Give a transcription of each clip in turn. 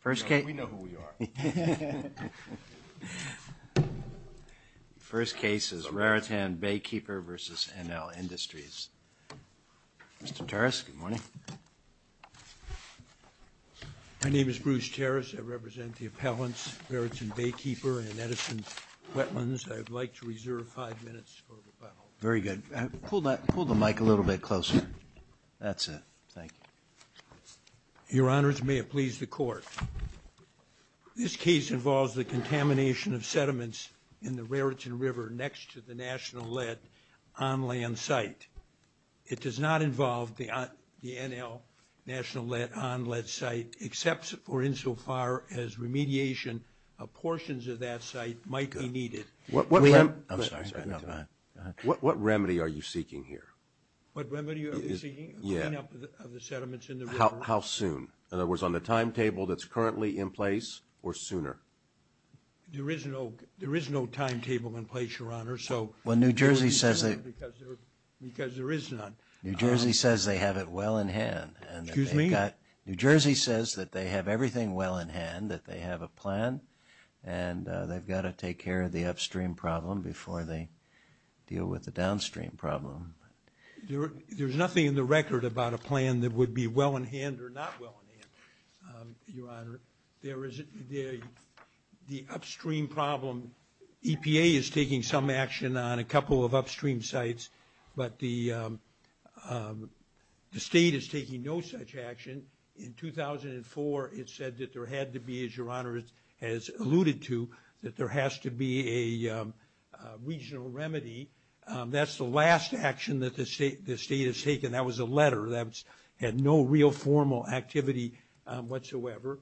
First case is Raritan Baykeeper versus NLIndustries. Mr. Terras, good morning. My name is Bruce Terras. I represent the appellants, Raritan Baykeeper and Edison Wetlands. I would like to reserve five minutes for rebuttal. Very good. Pull the mic a little bit closer. That's it. Thank you. Your Honors, may it please the Court. This case involves the contamination of sediments in the Raritan River next to the National Lead on-land site. It does not involve the NL National Lead on-land site except for insofar as remediation of portions of that site might be needed. What remedy are you seeking here? What remedy are we seeking? Clean up of the sediments in the river? How soon? In other words, on the timetable that's currently in place or sooner? There is no timetable in place, Your Honor. Well, New Jersey says they have it well in hand. Excuse me? New Jersey says that they have everything well in hand, that they have a plan, and they've got to take care of the upstream problem before they deal with the downstream problem. There's nothing in the record about a plan that would be well in hand or not well in hand, Your Honor. The upstream problem, EPA is taking some action on a couple of upstream sites, but the state is taking no such action. In 2004, it said that there had to be, as Your Honor has alluded to, that there has to be a regional remedy. That's the last action that the state has taken. That was a letter that had no real formal activity whatsoever,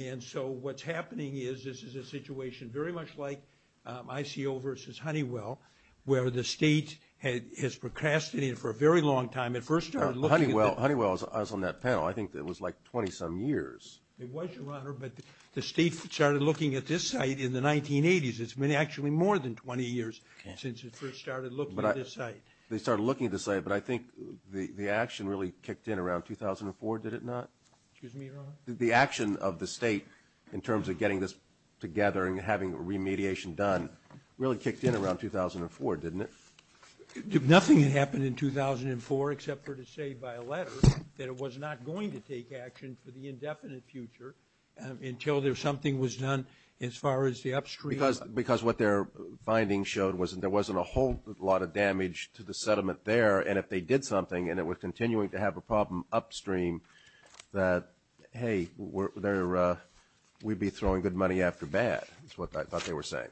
and so what's happening is this is a situation very much like ICO versus Honeywell, where the state has procrastinated for a very long time. Honeywell was on that panel. I think it was like 20-some years. It was, Your Honor, but the state started looking at this site in the 1980s. It's been actually more than 20 years since it first started looking at this site. They started looking at this site, but I think the action really kicked in around 2004, did it not? Excuse me, Your Honor? The action of the state in terms of getting this together and having remediation done really kicked in around 2004, didn't it? Nothing had happened in 2004 except for to say by a letter that it was not going to take action for the indefinite future until something was done as far as the upstream. Because what their findings showed was there wasn't a whole lot of damage to the settlement there, and if they did something and it was continuing to have a problem upstream, that, hey, we'd be throwing good money after bad, is what I thought they were saying.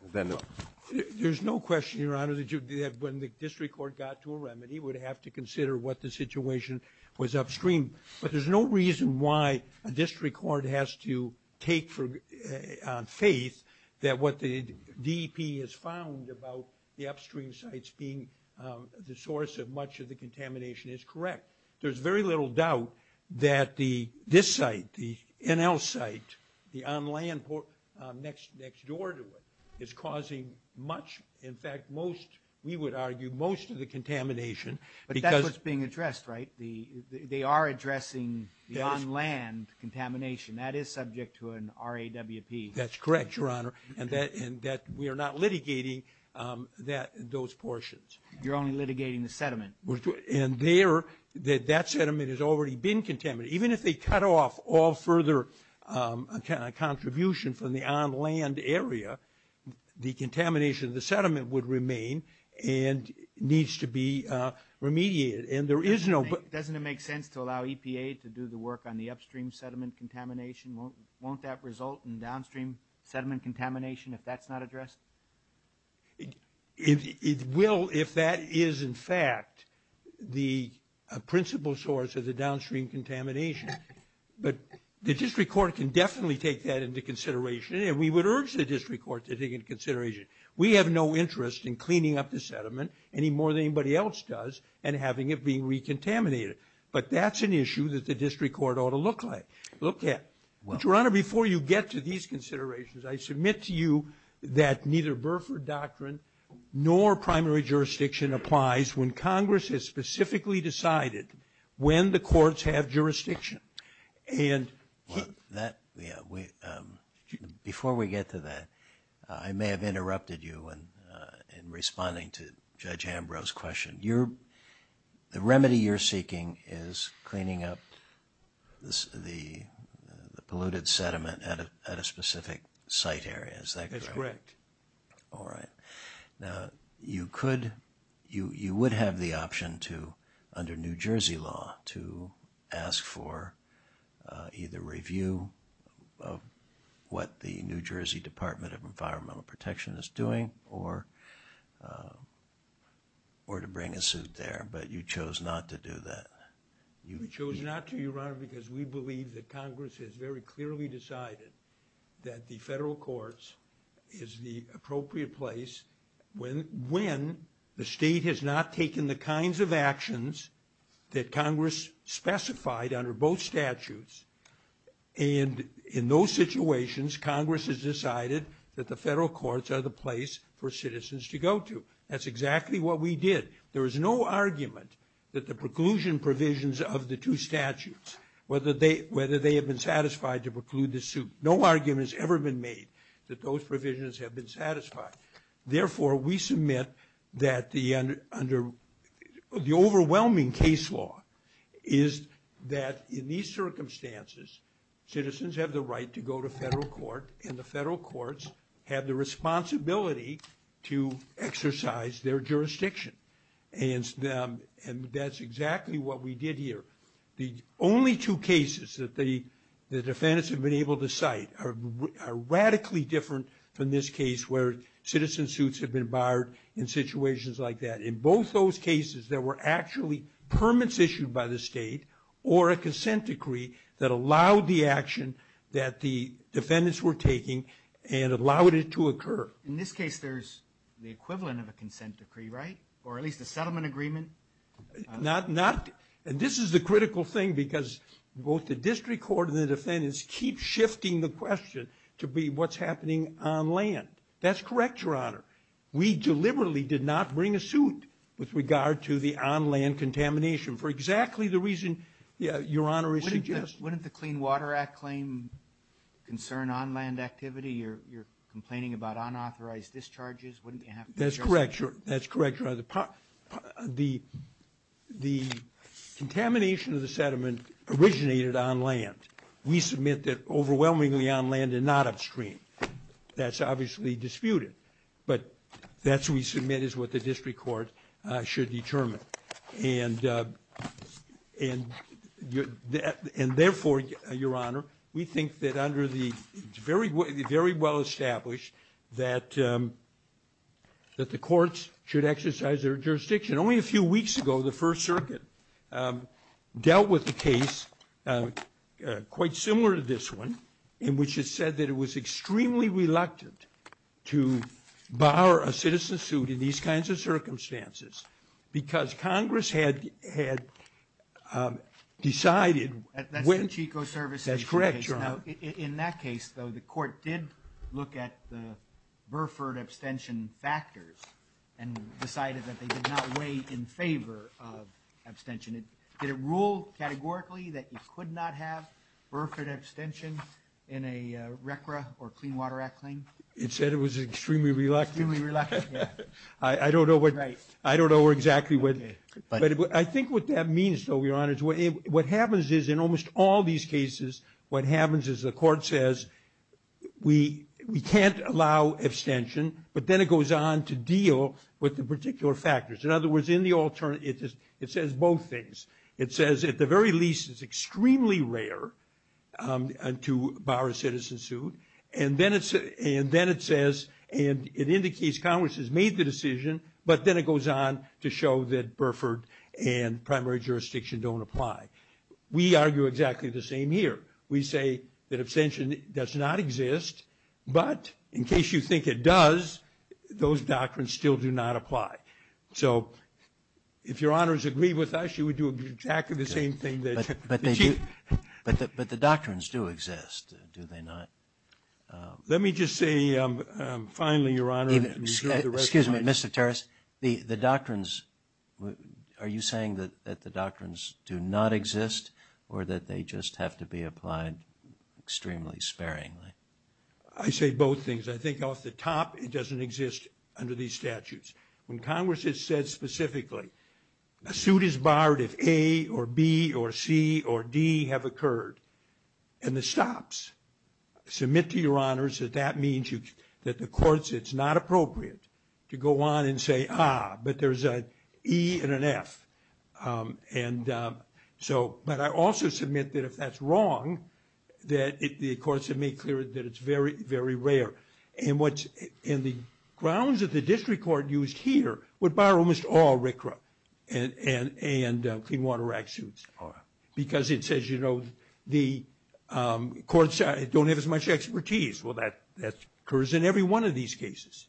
There's no question, Your Honor, that when the district court got to a remedy, it would have to consider what the situation was upstream, but there's no reason why a district court has to take on faith that what the DEP has found about the upstream sites being the source of much of the contamination is correct. There's very little doubt that this site, the NL site, the on-land port next door to it, is causing much, in fact, most, we would argue most of the contamination. But that's what's being addressed, right? They are addressing the on-land contamination. That is subject to an RAWP. That's correct, Your Honor, and that we are not litigating those portions. You're only litigating the sediment. And that sediment has already been contaminated. Even if they cut off all further contribution from the on-land area, the contamination of the sediment would remain and needs to be remediated. Doesn't it make sense to allow EPA to do the work on the upstream sediment contamination? Won't that result in downstream sediment contamination if that's not addressed? It will if that is, in fact, the principal source of the downstream contamination. But the district court can definitely take that into consideration, and we would urge the district court to take it into consideration. We have no interest in cleaning up the sediment any more than anybody else does and having it be recontaminated. But that's an issue that the district court ought to look at. But, Your Honor, before you get to these considerations, I submit to you that neither Burford doctrine nor primary jurisdiction applies when Congress has specifically decided when the courts have jurisdiction. Before we get to that, I may have interrupted you in responding to Judge Ambrose's question. The remedy you're seeking is cleaning up the polluted sediment at a specific site area. Is that correct? That's correct. All right. Now, you would have the option to, under New Jersey law, to ask for either review of what the New Jersey Department of Environmental Protection is doing or to bring a suit there, but you chose not to do that. We chose not to, Your Honor, because we believe that Congress has very clearly decided that the federal courts is the appropriate place when the state has not taken the kinds of actions that Congress specified under both statutes, and in those situations Congress has decided that the federal courts are the place for citizens to go to. That's exactly what we did. There is no argument that the preclusion provisions of the two statutes, whether they have been satisfied to preclude the suit. No argument has ever been made that those provisions have been satisfied. Therefore, we submit that the overwhelming case law is that in these circumstances, citizens have the right to go to federal court, and the federal courts have the responsibility to exercise their jurisdiction, and that's exactly what we did here. The only two cases that the defendants have been able to cite are radically different from this case where citizen suits have been barred in situations like that. In both those cases there were actually permits issued by the state or a consent decree that allowed the action that the defendants were taking and allowed it to occur. In this case there's the equivalent of a consent decree, right? Or at least a settlement agreement? And this is the critical thing because both the district court and the defendants keep shifting the question to be what's happening on land. That's correct, Your Honor. We deliberately did not bring a suit with regard to the on-land contamination for exactly the reason Your Honor is suggesting. Wouldn't the Clean Water Act claim concern on-land activity? You're complaining about unauthorized discharges. That's correct, Your Honor. The contamination of the settlement originated on land. We submit that overwhelmingly on land and not upstream. That's obviously disputed, but that's what we submit is what the district court should determine. And therefore, Your Honor, we think that under the very well established that the courts should exercise their jurisdiction. Only a few weeks ago the First Circuit dealt with a case quite similar to this one in which it said that it was extremely reluctant to borrow a citizen suit in these kinds of circumstances because Congress had decided when. That's the Chico Service case. That's correct, Your Honor. In that case, though, the court did look at the Burford abstention factors and decided that they did not weigh in favor of abstention. Did it rule categorically that you could not have Burford abstention in a RCRA or Clean Water Act claim? It said it was extremely reluctant. Extremely reluctant, yeah. I don't know exactly what. But I think what that means, though, Your Honor, is what happens is in almost all these cases what happens is the court says we can't allow abstention, but then it goes on to deal with the particular factors. In other words, it says both things. It says at the very least it's extremely rare to borrow a citizen suit, and then it says and it indicates Congress has made the decision, but then it goes on to show that Burford and primary jurisdiction don't apply. We argue exactly the same here. We say that abstention does not exist, but in case you think it does, those doctrines still do not apply. So if Your Honors agree with us, you would do exactly the same thing. But the doctrines do exist, do they not? Let me just say finally, Your Honor. Excuse me, Mr. Terris. The doctrines, are you saying that the doctrines do not exist or that they just have to be applied extremely sparingly? I say both things. I think off the top it doesn't exist under these statutes. When Congress has said specifically a suit is barred if A or B or C or D have occurred, and it stops, submit to Your Honors that that means that the courts, it's not appropriate to go on and say, ah, but there's an E and an F. And so, but I also submit that if that's wrong, that the courts have made clear that it's very, very rare. And the grounds that the district court used here would borrow almost all RCRA and Clean Water Act suits. Because it says, you know, the courts don't have as much expertise. Well, that occurs in every one of these cases.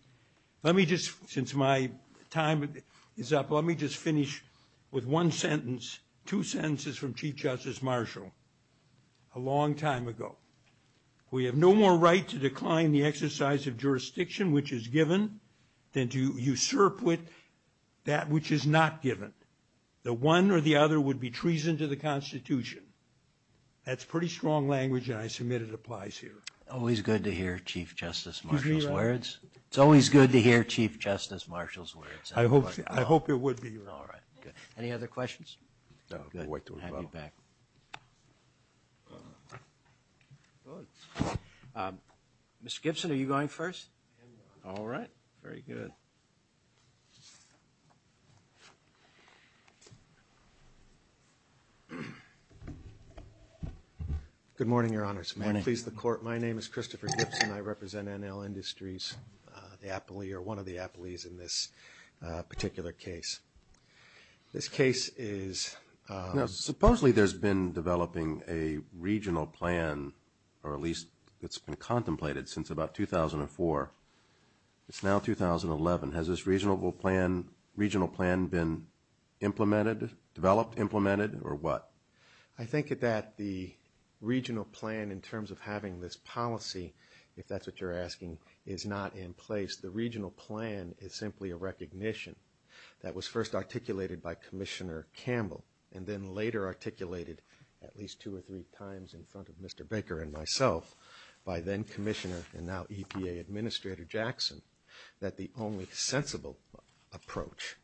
Let me just, since my time is up, let me just finish with one sentence, two sentences from Chief Justice Marshall a long time ago. We have no more right to decline the exercise of jurisdiction which is given than to usurp with that which is not given. The one or the other would be treason to the Constitution. That's pretty strong language, and I submit it applies here. Always good to hear Chief Justice Marshall's words. It's always good to hear Chief Justice Marshall's words. I hope it would be. All right. Any other questions? No. Good. Mr. Gibson, are you going first? All right, very good. Good morning, Your Honors. May it please the Court. My name is Christopher Gibson. I represent NL Industries, one of the appellees in this particular case. This case is… Now, supposedly there's been developing a regional plan, or at least it's been contemplated since about 2004. It's now 2011. Has this regional plan been implemented, developed, implemented, or what? I think that the regional plan in terms of having this policy, if that's what you're asking, is not in place. The regional plan is simply a recognition that was first articulated by Commissioner Campbell and then later articulated at least two or three times in front of Mr. Baker and myself by then Commissioner and now EPA Administrator Jackson, that the only sensible approach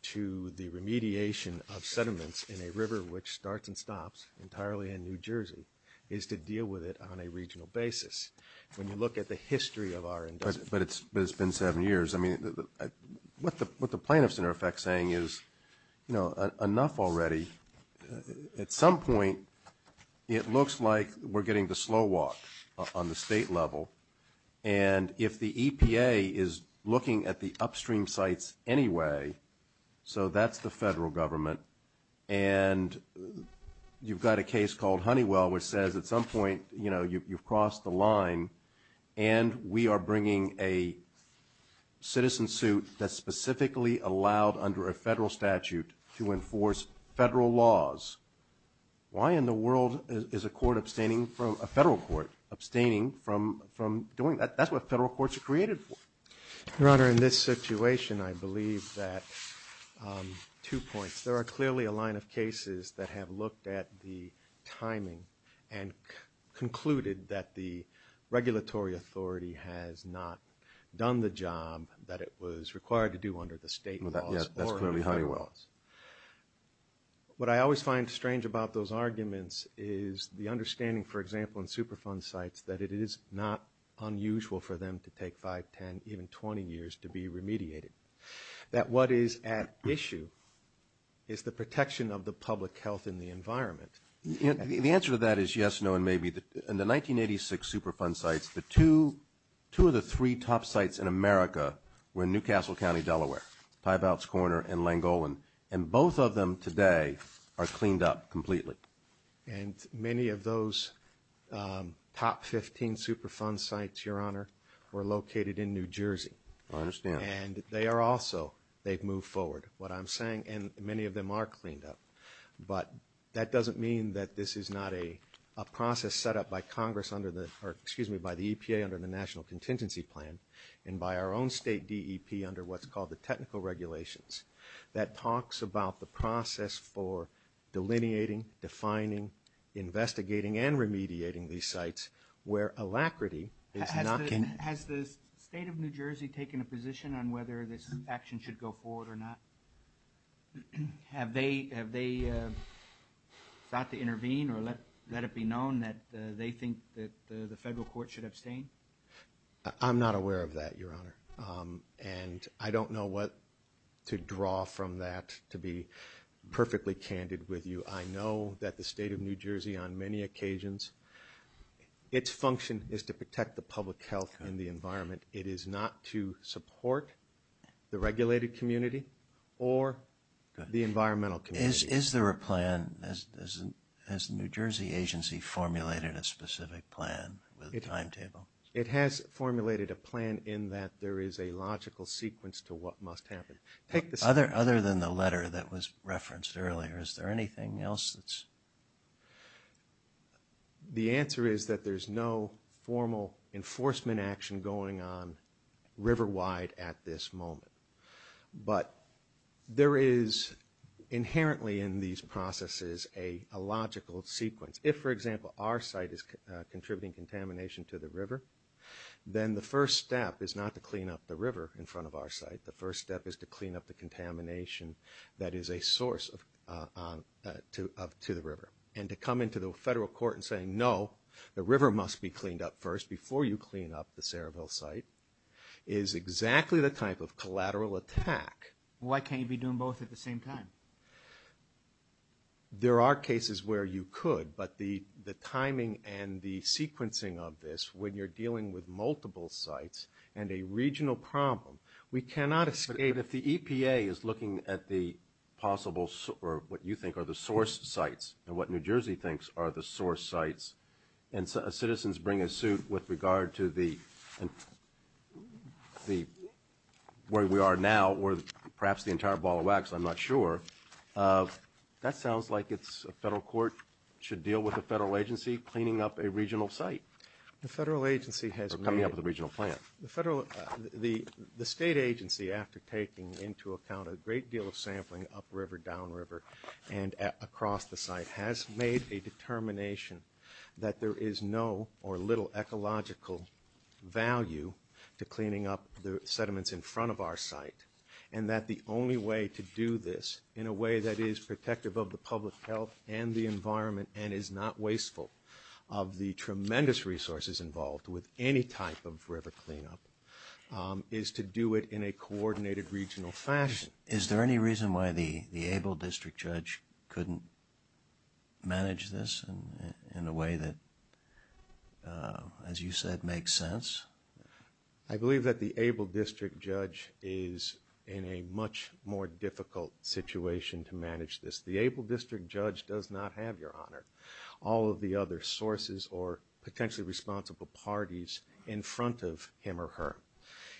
to the remediation of sediments in a river which starts and stops entirely in New Jersey is to deal with it on a regional basis. When you look at the history of our industry… But it's been seven years. I mean, what the plaintiffs, in effect, are saying is, you know, enough already. At some point, it looks like we're getting the slow walk on the state level, and if the EPA is looking at the upstream sites anyway, so that's the federal government, and you've got a case called Honeywell which says at some point, you know, you've crossed the line, and we are bringing a citizen suit that's specifically allowed under a federal statute to enforce federal laws. Why in the world is a federal court abstaining from doing that? That's what federal courts are created for. Your Honor, in this situation, I believe that two points. There are clearly a line of cases that have looked at the timing and concluded that the regulatory authority has not done the job that it was required to do under the state laws or the federal laws. What I always find strange about those arguments is the understanding, for example, in Superfund sites that it is not unusual for them to take 5, 10, even 20 years to be remediated, that what is at issue is the protection of the public health and the environment. The answer to that is yes, no, and maybe. In the 1986 Superfund sites, two of the three top sites in America were in Newcastle County, Delaware, Tybaut's Corner and Langolan, and both of them today are cleaned up completely. And many of those top 15 Superfund sites, Your Honor, were located in New Jersey. I understand. And they are also, they've moved forward. What I'm saying, and many of them are cleaned up, but that doesn't mean that this is not a process set up by Congress under the, or excuse me, by the EPA under the National Contingency Plan and by our own state DEP under what's called the technical regulations that talks about the process for delineating, defining, investigating, and remediating these sites where alacrity is not. Has the state of New Jersey taken a position on whether this action should go forward or not? Have they thought to intervene or let it be known that they think that the federal court should abstain? I'm not aware of that, Your Honor. And I don't know what to draw from that to be perfectly candid with you. I know that the state of New Jersey on many occasions, its function is to protect the public health and the environment. It is not to support the regulated community or the environmental community. Is there a plan? Has the New Jersey agency formulated a specific plan with a timetable? It has formulated a plan in that there is a logical sequence to what must happen. Other than the letter that was referenced earlier, is there anything else that's? The answer is that there's no formal enforcement action going on river wide at this moment. But there is inherently in these processes a logical sequence. If, for example, our site is contributing contamination to the river, then the first step is not to clean up the river in front of our site. The first step is to clean up the contamination that is a source to the river. And to come into the federal court and say, no, the river must be cleaned up first before you clean up the Saraville site, is exactly the type of collateral attack. Why can't you be doing both at the same time? There are cases where you could. But the timing and the sequencing of this, when you're dealing with multiple sites and a regional problem, we cannot escape. But, Abe, if the EPA is looking at the possible, or what you think are the source sites, and what New Jersey thinks are the source sites, and citizens bring a suit with regard to the, where we are now, or perhaps the entire ball of wax, I'm not sure, that sounds like it's a federal court should deal with a federal agency cleaning up a regional site. The federal agency has made. Or coming up with a regional plan. The state agency, after taking into account a great deal of sampling upriver, downriver, and across the site, has made a determination that there is no or little ecological value to cleaning up the sediments in front of our site, and that the only way to do this in a way that is protective of the public health and the environment and is not wasteful of the tremendous resources involved with any type of river cleanup, is to do it in a coordinated regional fashion. Is there any reason why the Able District Judge couldn't manage this in a way that, as you said, makes sense? I believe that the Able District Judge is in a much more difficult situation to manage this. All of the other sources or potentially responsible parties in front of him or her.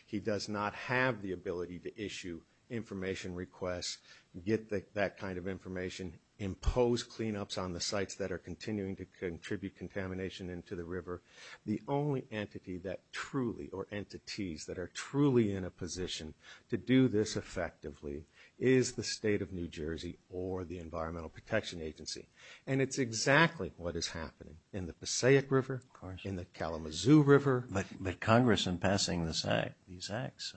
He does not have the ability to issue information requests, get that kind of information, impose cleanups on the sites that are continuing to contribute contamination into the river. The only entity that truly, or entities that are truly in a position to do this effectively, is the state of New Jersey or the Environmental Protection Agency. And it's exactly what is happening in the Passaic River, in the Kalamazoo River. But Congress, in passing these acts,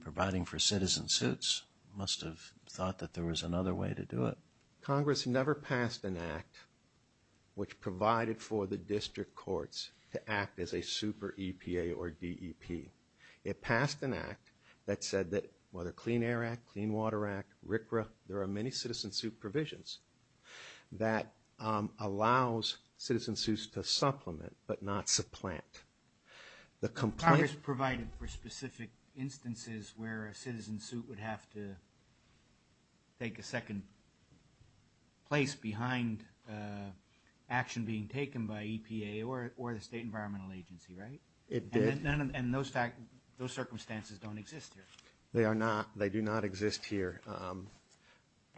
providing for citizen suits, must have thought that there was another way to do it. Congress never passed an act which provided for the district courts to act as a super EPA or DEP. It passed an act that said that, whether Clean Air Act, Clean Water Act, RCRA, there are many citizen suit provisions that allows citizen suits to supplement but not supplant. Congress provided for specific instances where a citizen suit would have to take a second place behind action being taken by EPA or the State Environmental Agency, right? It did. And those circumstances don't exist here? They are not. They do not exist here.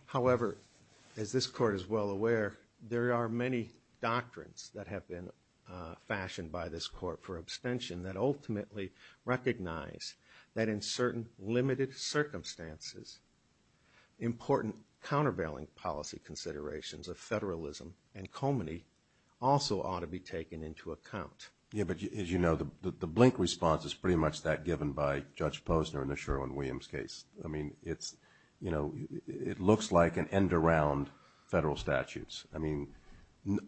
However, as this Court is well aware, there are many doctrines that have been fashioned by this Court for abstention that ultimately recognize that in certain limited circumstances, important countervailing policy considerations of federalism and comity also ought to be taken into account. Yeah, but as you know, the blink response is pretty much that given by Judge Posner in the Sherwin-Williams case. I mean, it's, you know, it looks like an end around federal statutes. I mean,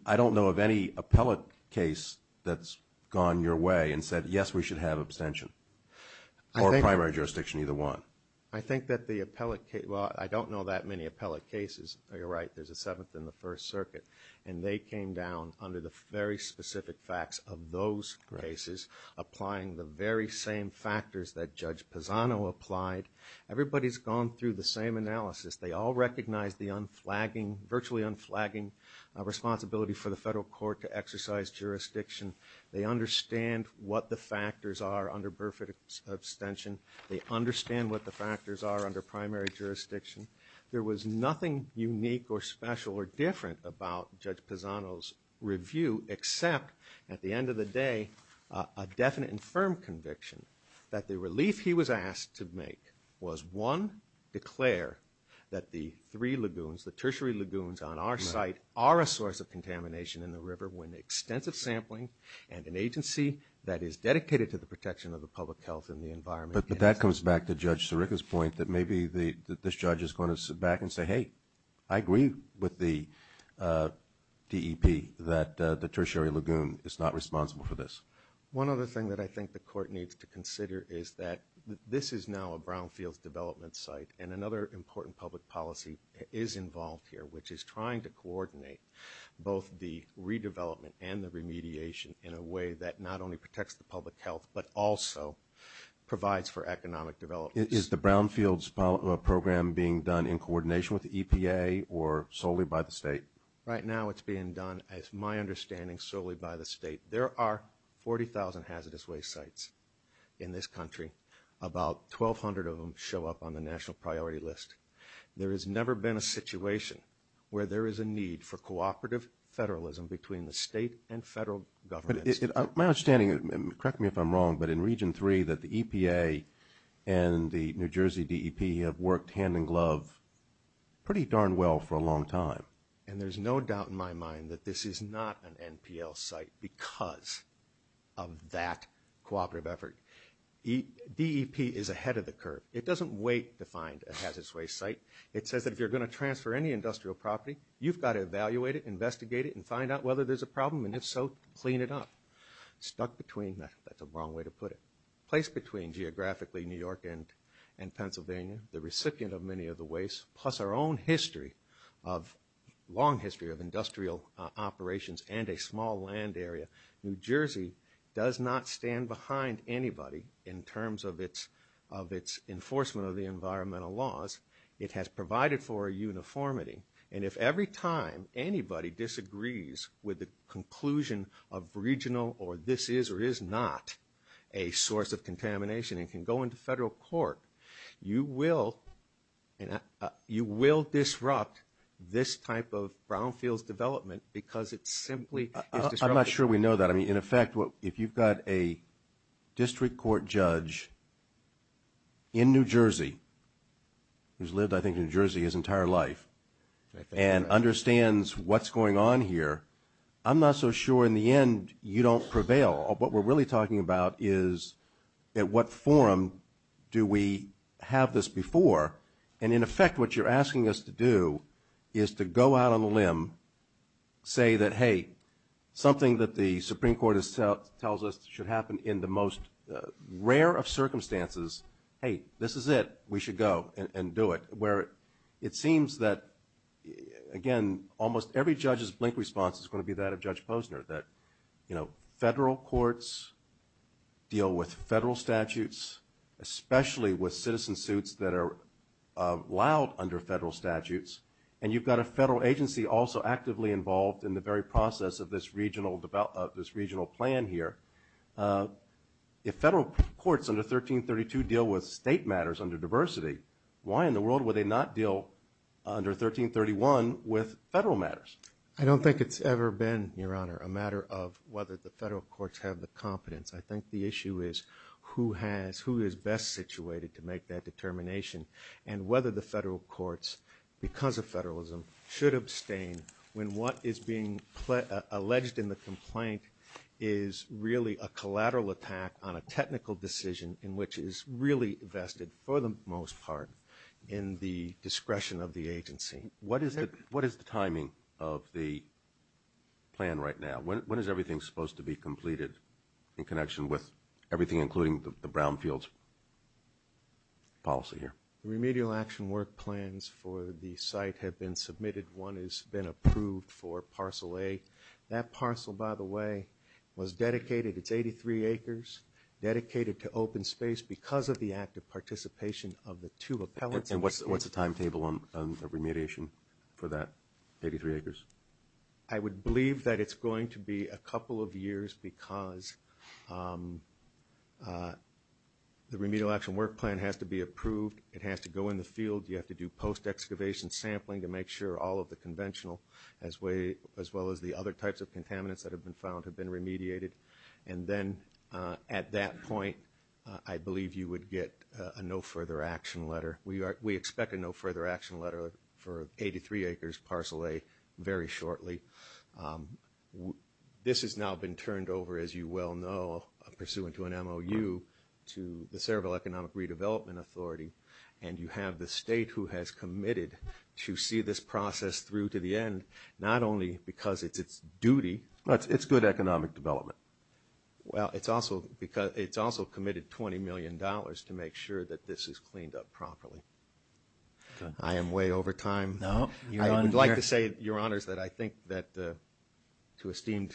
I don't know of any appellate case that's gone your way and said, yes, we should have abstention. Or primary jurisdiction, either one. I think that the appellate case, well, I don't know that many appellate cases, you're right, there's a seventh in the First Circuit, and they came down under the very specific facts of those cases, applying the very same factors that Judge Posano applied. Everybody's gone through the same analysis. They all recognize the unflagging, virtually unflagging, responsibility for the federal court to exercise jurisdiction. They understand what the factors are under Burford abstention. They understand what the factors are under primary jurisdiction. There was nothing unique or special or different about Judge Posano's review except, at the end of the day, a definite and firm conviction that the relief he was asked to make was, one, declare that the three lagoons, the tertiary lagoons on our site, are a source of contamination in the river when extensive sampling and an agency that is dedicated to the protection of the public health and the environment. But that comes back to Judge Sirica's point that maybe this judge is going to sit back and say, hey, I agree with the DEP that the tertiary lagoon is not responsible for this. One other thing that I think the court needs to consider is that this is now a brownfields development site, and another important public policy is involved here, which is trying to coordinate both the redevelopment and the remediation in a way that not only protects the public health but also provides for economic development. Is the brownfields program being done in coordination with the EPA or solely by the state? Right now it's being done, as my understanding, solely by the state. There are 40,000 hazardous waste sites in this country. About 1,200 of them show up on the national priority list. There has never been a situation where there is a need for cooperative federalism between the state and federal governments. My understanding, correct me if I'm wrong, but in Region 3 that the EPA and the New Jersey DEP have worked hand in glove pretty darn well for a long time. And there's no doubt in my mind that this is not an NPL site because of that cooperative effort. DEP is ahead of the curve. It doesn't wait to find a hazardous waste site. It says that if you're going to transfer any industrial property, you've got to evaluate it, investigate it, and find out whether there's a problem, and if so, clean it up. Stuck between, that's a wrong way to put it, placed between geographically New York and Pennsylvania, the recipient of many of the wastes, plus our own history, long history of industrial operations and a small land area, New Jersey does not stand behind anybody in terms of its enforcement of the environmental laws. It has provided for a uniformity. And if every time anybody disagrees with the conclusion of regional or this is or is not a source of contamination and can go into federal court, you will disrupt this type of brownfields development because it simply is disruptive. I'm not sure we know that. I mean, in effect, if you've got a district court judge in New Jersey, who's lived, I think, in New Jersey his entire life and understands what's going on here, I'm not so sure in the end you don't prevail. What we're really talking about is at what forum do we have this before. And, in effect, what you're asking us to do is to go out on a limb, say that, hey, something that the Supreme Court tells us should happen in the most rare of circumstances, hey, this is it, we should go and do it, where it seems that, again, almost every judge's blink response is going to be that of Judge Posner, that federal courts deal with federal statutes, especially with citizen suits that are allowed under federal statutes. And you've got a federal agency also actively involved in the very process of this regional plan here. If federal courts under 1332 deal with state matters under diversity, why in the world would they not deal under 1331 with federal matters? I don't think it's ever been, Your Honor, a matter of whether the federal courts have the competence. I think the issue is who is best situated to make that determination and whether the federal courts, because of federalism, should abstain when what is being alleged in the complaint is really a collateral attack on a technical decision in which is really vested, for the most part, in the discretion of the agency. What is the timing of the plan right now? When is everything supposed to be completed in connection with everything, including the Brownfields policy here? The remedial action work plans for the site have been submitted. One has been approved for parcel A. That parcel, by the way, was dedicated. It's 83 acres, dedicated to open space because of the active participation of the two appellants. And what's the timetable on the remediation for that 83 acres? I would believe that it's going to be a couple of years because the remedial action work plan has to be approved. It has to go in the field. You have to do post-excavation sampling to make sure all of the conventional, as well as the other types of contaminants that have been found, have been remediated. And then, at that point, I believe you would get a no-further-action letter. We expect a no-further-action letter for 83 acres, parcel A, very shortly. This has now been turned over, as you well know, pursuant to an MOU, to the Cerebral Economic Redevelopment Authority, and you have the state who has committed to see this process through to the end, not only because it's its duty. It's good economic development. Well, it's also committed $20 million to make sure that this is cleaned up properly. I am way over time. I would like to say, Your Honors, that I think that, to esteemed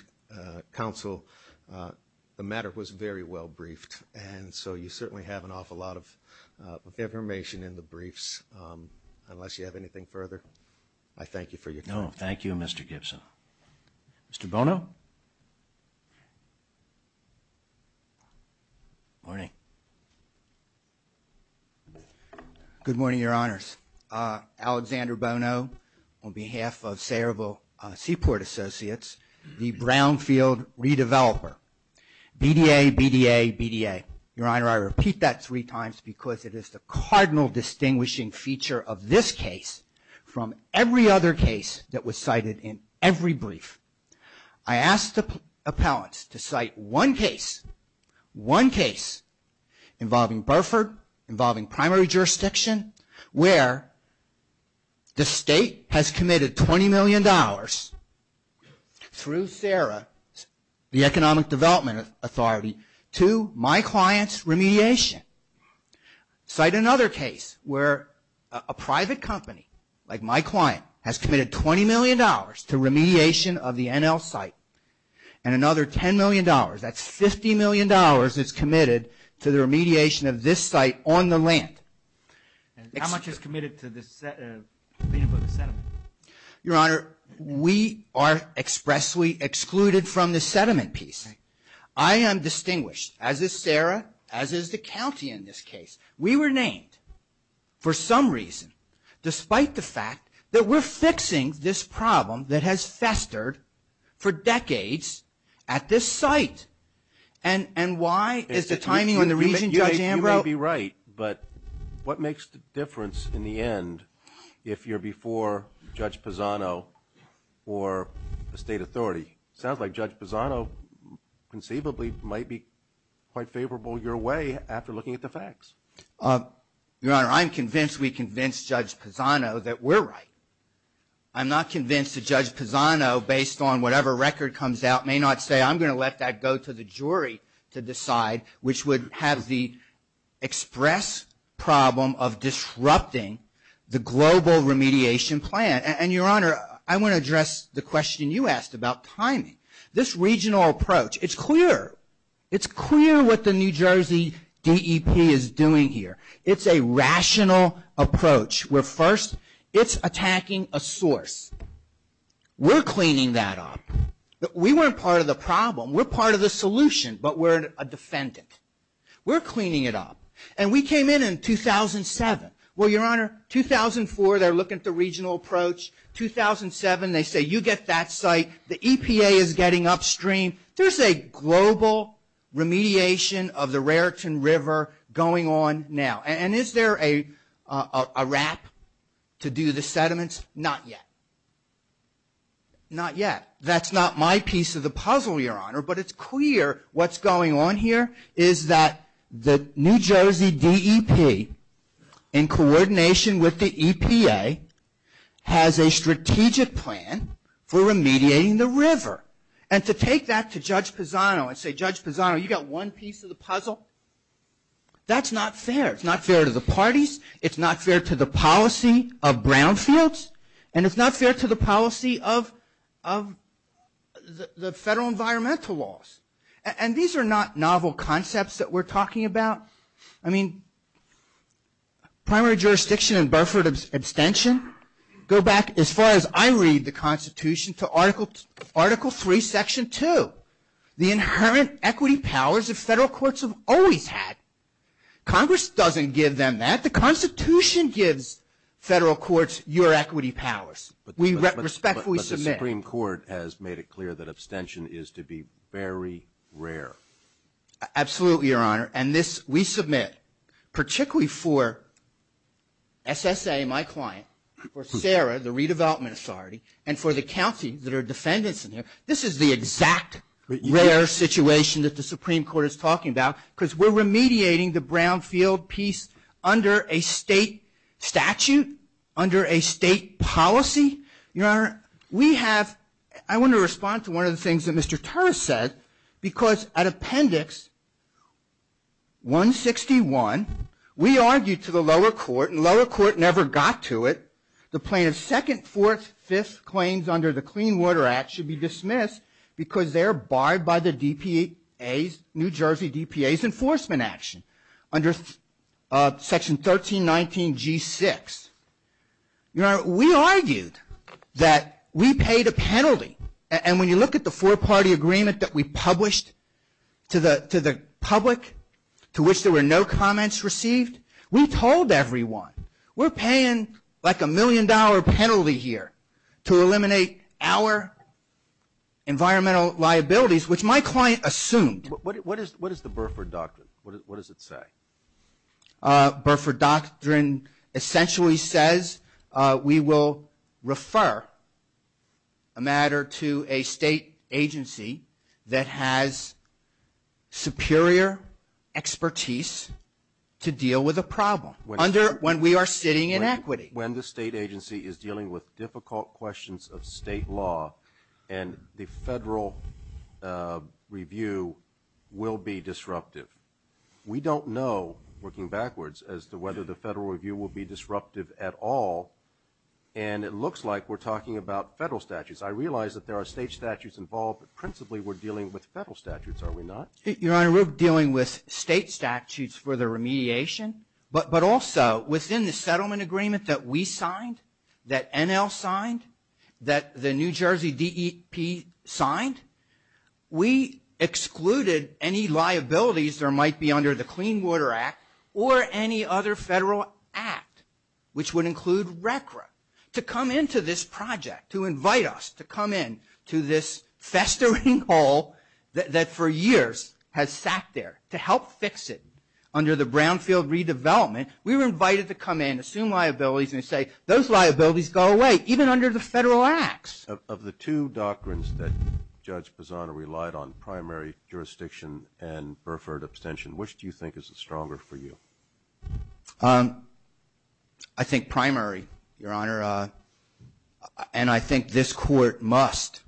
counsel, the matter was very well briefed, and so you certainly have an awful lot of information in the briefs. Unless you have anything further, I thank you for your time. No, thank you, Mr. Gibson. Mr. Bono? Morning. Good morning, Your Honors. Alexander Bono, on behalf of Cerebral Seaport Associates, the Brownfield redeveloper, BDA, BDA, BDA. Your Honor, I repeat that three times because it is the cardinal distinguishing feature of this case from every other case that was cited in every brief. I asked the appellants to cite one case, one case, involving Burford, involving primary jurisdiction, where the state has committed $20 million through SARA, the Economic Development Authority, to my client's remediation. Cite another case where a private company, like my client, has committed $20 million to remediation of the NL site, and another $10 million, that's $50 million, it's committed to the remediation of this site on the land. How much is committed to the settlement? Your Honor, we are expressly excluded from the settlement piece. I am distinguished, as is SARA, as is the county in this case. We were named for some reason, despite the fact that we're fixing this problem that has festered for decades at this site. And why is the timing on the region, Judge Ambrose? You may be right, but what makes the difference in the end if you're before Judge Pisano or the state authority? It sounds like Judge Pisano conceivably might be quite favorable your way after looking at the facts. Your Honor, I'm convinced we convinced Judge Pisano that we're right. I'm not convinced that Judge Pisano, based on whatever record comes out, may not say, I'm going to let that go to the jury to decide, which would have the express problem of disrupting the global remediation plan. And, Your Honor, I want to address the question you asked about timing. This regional approach, it's clear. It's clear what the New Jersey DEP is doing here. It's a rational approach. First, it's attacking a source. We're cleaning that up. We weren't part of the problem. We're part of the solution, but we're a defendant. We're cleaning it up. And we came in in 2007. Well, Your Honor, 2004, they're looking at the regional approach. 2007, they say, you get that site. The EPA is getting upstream. There's a global remediation of the Raritan River going on now. And is there a wrap to do the sediments? Not yet. Not yet. That's not my piece of the puzzle, Your Honor, but it's clear what's going on here is that the New Jersey DEP, in coordination with the EPA, has a strategic plan for remediating the river. And to take that to Judge Pisano and say, Judge Pisano, you got one piece of the puzzle, that's not fair. It's not fair to the parties. It's not fair to the policy of brownfields. And it's not fair to the policy of the federal environmental laws. And these are not novel concepts that we're talking about. I mean, primary jurisdiction and Burford abstention go back, as far as I read the Constitution, to Article III, Section 2, the inherent equity powers that federal courts have always had. Congress doesn't give them that. But the Constitution gives federal courts your equity powers. We respectfully submit. But the Supreme Court has made it clear that abstention is to be very rare. Absolutely, Your Honor. And this we submit, particularly for SSA, my client, for SARA, the Redevelopment Authority, and for the counties that are defendants in there. This is the exact rare situation that the Supreme Court is talking about, because we're remediating the brownfield piece under a state statute, under a state policy. Your Honor, I want to respond to one of the things that Mr. Turr said, because at Appendix 161, we argued to the lower court, and the lower court never got to it. The plaintiff's second, fourth, fifth claims under the Clean Water Act should be dismissed because they're barred by the DPA's, New Jersey DPA's enforcement action under Section 1319G6. Your Honor, we argued that we paid a penalty. And when you look at the four-party agreement that we published to the public, to which there were no comments received, we told everyone, we're paying like a million-dollar penalty here to eliminate our environmental liabilities, which my client assumed. What is the Burford Doctrine? What does it say? Burford Doctrine essentially says we will refer a matter to a state agency that has superior expertise to deal with a problem. Under when we are sitting in equity. When the state agency is dealing with difficult questions of state law and the federal review will be disruptive. We don't know, working backwards, as to whether the federal review will be disruptive at all, and it looks like we're talking about federal statutes. I realize that there are state statutes involved, but principally we're dealing with federal statutes, are we not? Your Honor, we're dealing with state statutes for the remediation, but also within the settlement agreement that we signed, that NL signed, that the New Jersey DEP signed, we excluded any liabilities that might be under the Clean Water Act or any other federal act, which would include RCRA, to come into this project, to invite us to come in to this festering hole that for years has sat there to help fix it under the Brownfield redevelopment. We were invited to come in, assume liabilities, and say, those liabilities go away, even under the federal acts. Of the two doctrines that Judge Pisano relied on, primary jurisdiction and Burford abstention, which do you think is stronger for you? I think primary, Your Honor. And I think this Court must,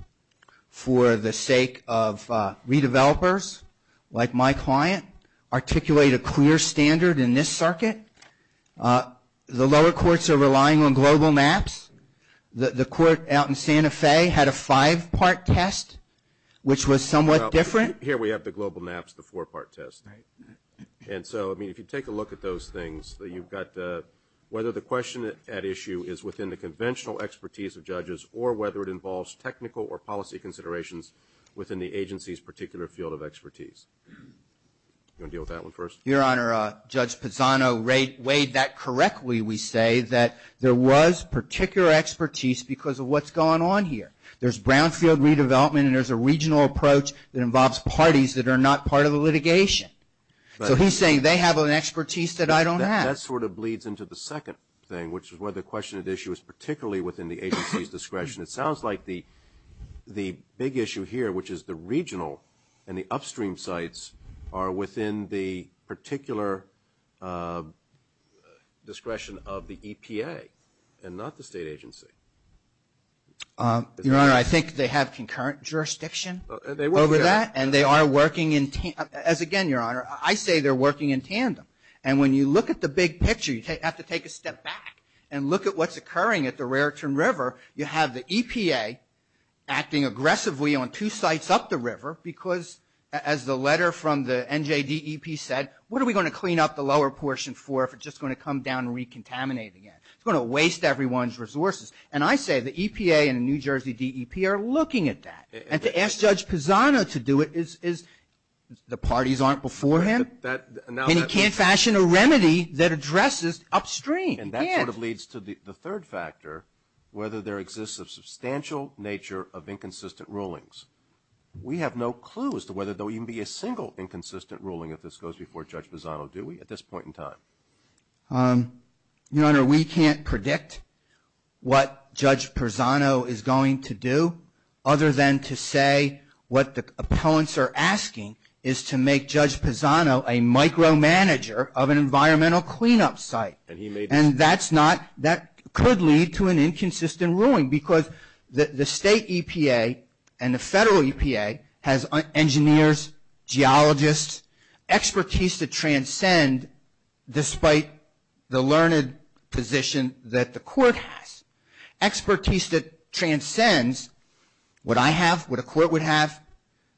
for the sake of redevelopers like my client, articulate a clear standard in this circuit. The lower courts are relying on global maps. The court out in Santa Fe had a five-part test, which was somewhat different. Here we have the global maps, the four-part test. And so, I mean, if you take a look at those things, you've got whether the question at issue is within the conventional expertise of judges or whether it involves technical or policy considerations within the agency's particular field of expertise. You want to deal with that one first? Your Honor, Judge Pisano weighed that correctly, we say, that there was particular expertise because of what's going on here. There's Brownfield redevelopment and there's a regional approach that involves parties that are not part of the litigation. So he's saying they have an expertise that I don't have. That sort of bleeds into the second thing, which is whether the question at issue is particularly within the agency's discretion. It sounds like the big issue here, which is the regional and the upstream sites are within the particular discretion of the EPA and not the state agency. Your Honor, I think they have concurrent jurisdiction over that, and they are working in tandem. As again, Your Honor, I say they're working in tandem. And when you look at the big picture, you have to take a step back and look at what's occurring at the Raritan River. You have the EPA acting aggressively on two sites up the river because, as the letter from the NJDEP said, what are we going to clean up the lower portion for if it's just going to come down and recontaminate again? It's going to waste everyone's resources. And I say the EPA and the New Jersey DEP are looking at that. And to ask Judge Pisano to do it is the parties aren't before him. And he can't fashion a remedy that addresses upstream. And that sort of leads to the third factor, whether there exists a substantial nature of inconsistent rulings. We have no clue as to whether there will even be a single inconsistent ruling if this goes before Judge Pisano, do we, at this point in time? Your Honor, we can't predict what Judge Pisano is going to do other than to say what the opponents are asking is to make Judge Pisano a micromanager of an environmental cleanup site. And that could lead to an inconsistent ruling because the state EPA and the federal EPA has engineers, geologists, expertise to transcend, despite the learned position that the court has, expertise that transcends what I have, what a court would have,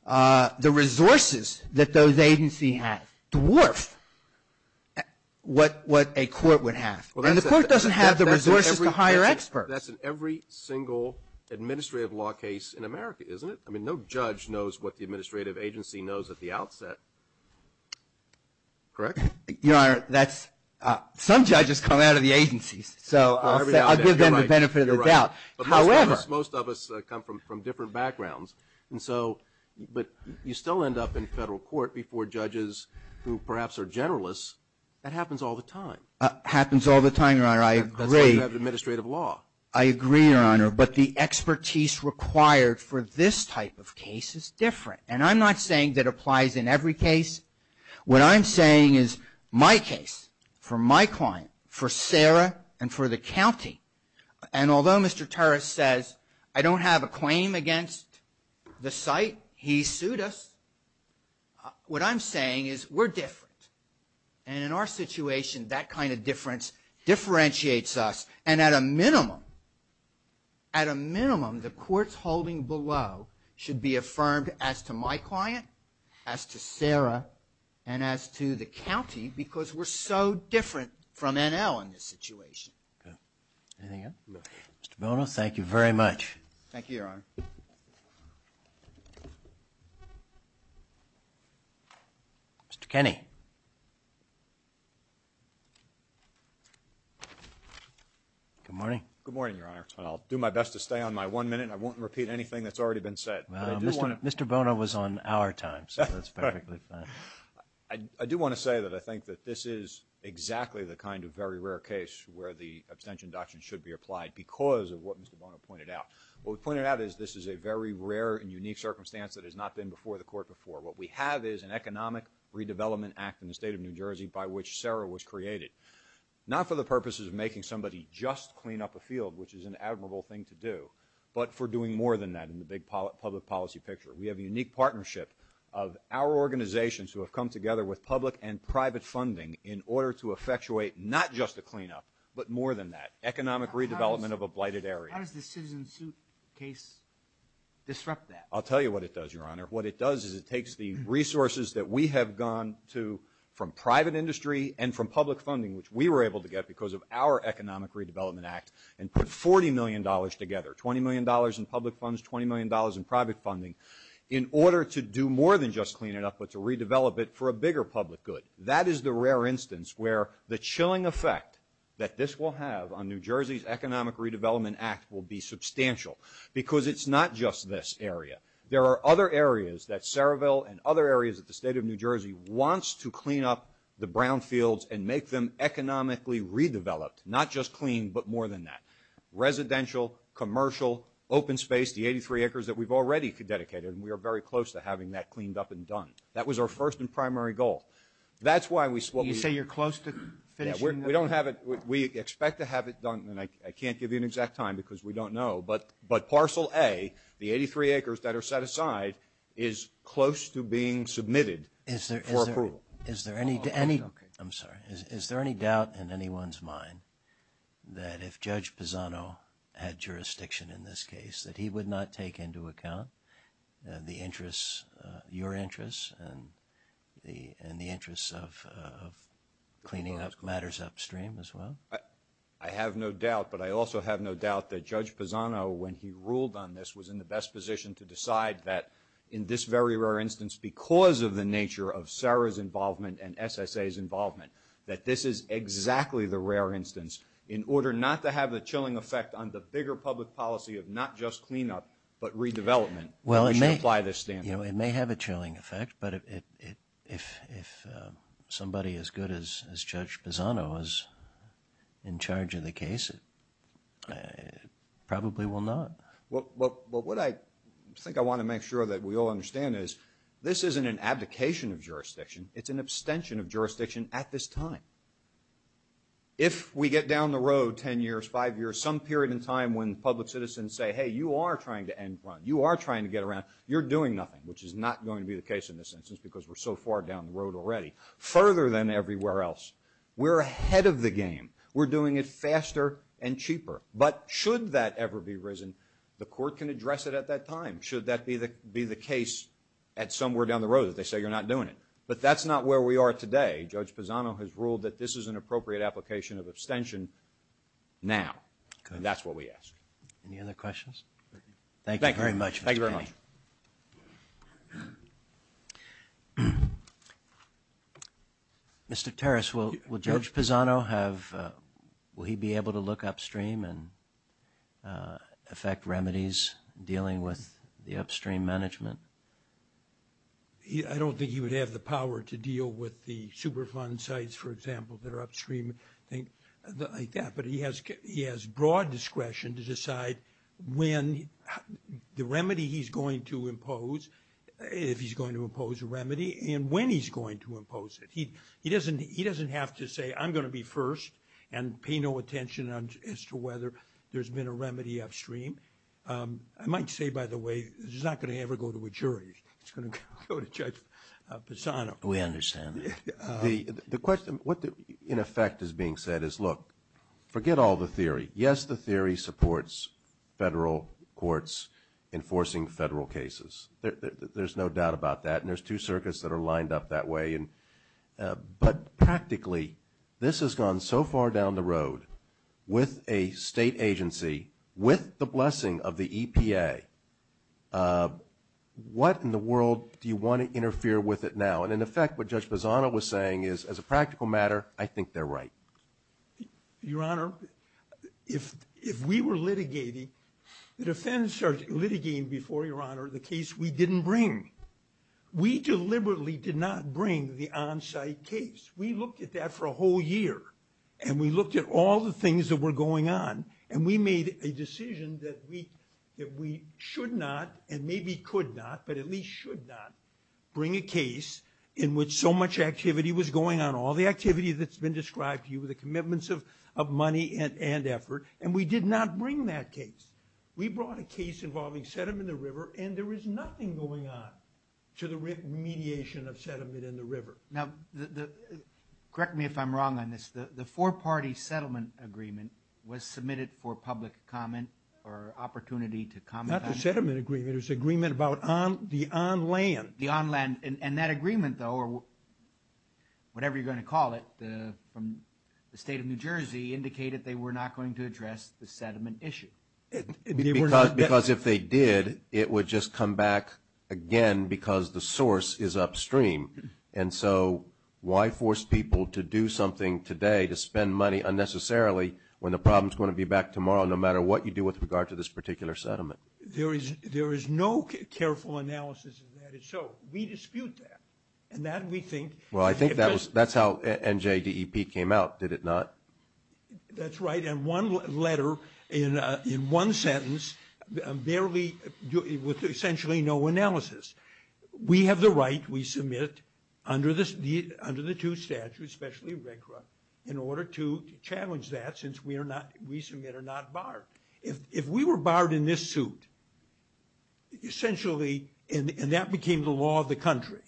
the resources that those agencies have dwarf what a court would have. And the court doesn't have the resources to hire experts. That's in every single administrative law case in America, isn't it? I mean, no judge knows what the administrative agency knows at the outset. Correct? Your Honor, some judges come out of the agencies. So I'll give them the benefit of the doubt. You're right. But most of us come from different backgrounds. And so, but you still end up in federal court before judges who perhaps are generalists. That happens all the time. Happens all the time, Your Honor. I agree. That's why you have administrative law. I agree, Your Honor. But the expertise required for this type of case is different. And I'm not saying that applies in every case. What I'm saying is my case, for my client, for Sarah and for the county, and although Mr. Torres says I don't have a claim against the site, he sued us, what I'm saying is we're different. And in our situation, that kind of difference differentiates us. And at a minimum, at a minimum, the courts holding below should be affirmed as to my client, as to Sarah, and as to the county because we're so different from NL in this situation. Anything else? Mr. Bono, thank you very much. Thank you, Your Honor. Mr. Kenney. Good morning. Good morning, Your Honor. I'll do my best to stay on my one minute. I won't repeat anything that's already been said. Mr. Bono was on our time, so that's perfectly fine. I do want to say that I think that this is exactly the kind of very rare case where the abstention doctrine should be applied because of what Mr. Bono pointed out. What we pointed out is this is a very rare and unique circumstance that has not been before the court before. What we have is an economic redevelopment act in the state of New Jersey by which Sarah was created, not for the purposes of making somebody just clean up a field, which is an admirable thing to do, but for doing more than that in the big public policy picture. We have a unique partnership of our organizations who have come together with public and private funding in order to effectuate not just a cleanup, but more than that, economic redevelopment of a blighted area. How does the citizen suit case disrupt that? I'll tell you what it does, Your Honor. What it does is it takes the resources that we have gone to from private industry and from public funding, which we were able to get because of our economic redevelopment act, and put $40 million together, $20 million in public funds, $20 million in private funding, in order to do more than just clean it up, but to redevelop it for a bigger public good. That is the rare instance where the chilling effect that this will have on New Jersey's economic redevelopment act will be substantial because it's not just this area. There are other areas that Saraville and other areas of the state of New Jersey wants to clean up the brown fields and make them economically redeveloped, not just clean, but more than that. Residential, commercial, open space, the 83 acres that we've already dedicated, and we are very close to having that cleaned up and done. That was our first and primary goal. You say you're close to finishing that? We expect to have it done, and I can't give you an exact time because we don't know, but parcel A, the 83 acres that are set aside, is close to being submitted for approval. I'm sorry. Is there any doubt in anyone's mind that if Judge Pisano had jurisdiction in this case, that he would not take into account the interests, your interests and the interests of cleaning up matters upstream as well? I have no doubt, but I also have no doubt that Judge Pisano, when he ruled on this, was in the best position to decide that in this very rare instance, because of the nature of Sarah's involvement and SSA's involvement, that this is exactly the rare instance. In order not to have the chilling effect on the bigger public policy of not just cleanup but redevelopment, we should apply this standard. It may have a chilling effect, but if somebody as good as Judge Pisano is in charge of the case, it probably will not. What I think I want to make sure that we all understand is, this isn't an abdication of jurisdiction. It's an abstention of jurisdiction at this time. If we get down the road 10 years, 5 years, some period in time when public citizens say, hey, you are trying to end the run, you are trying to get around, you're doing nothing, which is not going to be the case in this instance because we're so far down the road already. Further than everywhere else, we're ahead of the game. We're doing it faster and cheaper. But should that ever be risen, the court can address it at that time. Should that be the case at somewhere down the road that they say you're not doing it. But that's not where we are today. Judge Pisano has ruled that this is an appropriate application of abstention now. And that's what we ask. Any other questions? Thank you very much. Thank you very much. Mr. Terris, will Judge Pisano have, will he be able to look upstream and affect remedies, dealing with the upstream management? I don't think he would have the power to deal with the Superfund sites, for example, that are upstream. But he has broad discretion to decide when the remedy he's going to impose, if he's going to impose a remedy, and when he's going to impose it. He doesn't have to say I'm going to be first and pay no attention as to whether there's been a remedy upstream. I might say, by the way, this is not going to ever go to a jury. It's going to go to Judge Pisano. We understand that. The question, what in effect is being said is, look, forget all the theory. Yes, the theory supports federal courts enforcing federal cases. There's no doubt about that. And there's two circuits that are lined up that way. But practically, this has gone so far down the road with a state agency, with the blessing of the EPA. What in the world do you want to interfere with it now? And, in effect, what Judge Pisano was saying is, as a practical matter, I think they're right. Your Honor, if we were litigating, the defense started litigating before, Your Honor, the case we didn't bring. We deliberately did not bring the on-site case. We looked at that for a whole year. And we looked at all the things that were going on, and we made a decision that we should not, and maybe could not, but at least should not bring a case in which so much activity was going on, all the activity that's been described to you, the commitments of money and effort. And we did not bring that case. We brought a case involving sediment in the river, and there was nothing going on to the remediation of sediment in the river. Now, correct me if I'm wrong on this. The four-party settlement agreement was submitted for public comment or opportunity to comment on it. Not the settlement agreement. It was the agreement about the on-land. The on-land. And that agreement, though, or whatever you're going to call it, from the state of New Jersey, indicated they were not going to address the sediment issue. Because if they did, it would just come back again because the source is upstream. And so why force people to do something today to spend money unnecessarily when the problem is going to be back tomorrow, no matter what you do with regard to this particular sediment? There is no careful analysis of that. So we dispute that. And that, we think – Well, I think that's how NJDEP came out, did it not? That's right. And one letter in one sentence with essentially no analysis. We have the right, we submit under the two statutes, especially RCRA, in order to challenge that since we submit are not barred. If we were barred in this suit, essentially, and that became the law of the country,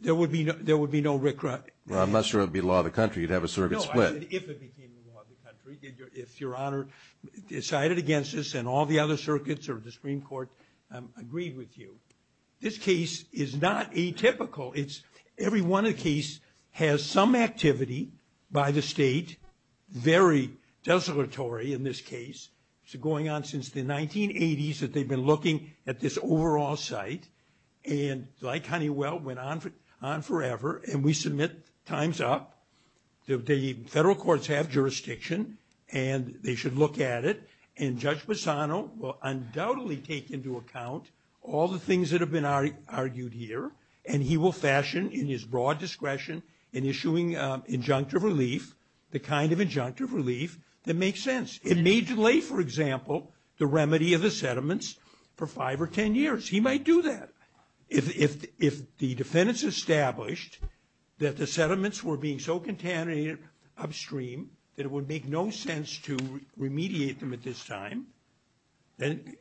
there would be no RCRA. Well, I'm not sure it would be law of the country. You'd have a circuit split. No, I said if it became law of the country, if Your Honor decided against this and all the other circuits or the Supreme Court agreed with you. This case is not atypical. Every one of the cases has some activity by the state, very desolatory in this case. It's been going on since the 1980s that they've been looking at this overall site. And like Honeywell, went on forever, and we submit times up. The federal courts have jurisdiction, and they should look at it. And Judge Bassano will undoubtedly take into account all the things that have been argued here, and he will fashion in his broad discretion in issuing injunctive relief, the kind of injunctive relief that makes sense. It may delay, for example, the remedy of the settlements for five or ten years. He might do that. If the defendants established that the settlements were being so contaminated upstream that it would make no sense to remediate them at this time, then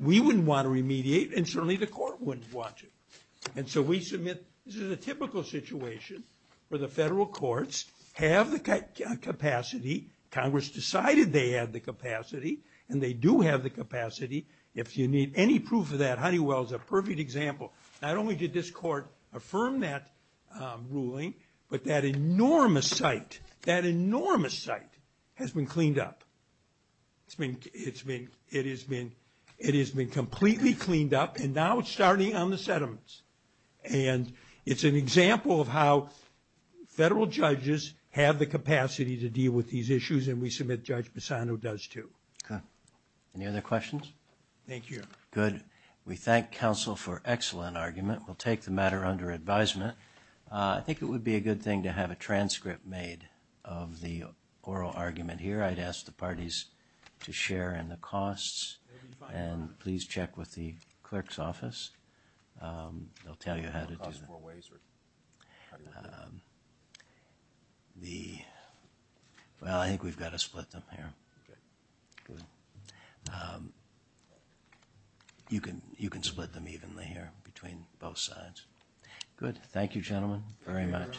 we wouldn't want to remediate, and certainly the court wouldn't want to. And so we submit this is a typical situation where the federal courts have the capacity. Congress decided they had the capacity, and they do have the capacity. If you need any proof of that, Honeywell is a perfect example. Not only did this court affirm that ruling, but that enormous site, that enormous site has been cleaned up. It has been completely cleaned up, and now it's starting on the settlements. And it's an example of how federal judges have the capacity to deal with these issues, and we submit Judge Bassano does too. Okay. Any other questions? Thank you. Good. We thank counsel for excellent argument. We'll take the matter under advisement. I think it would be a good thing to have a transcript made of the oral argument here. I'd ask the parties to share in the costs, and please check with the clerk's office. They'll tell you how to do that. Will it cost more ways? Well, I think we've got to split them here. Okay. Good. You can split them evenly here between both sides. Good. Thank you, gentlemen, very much.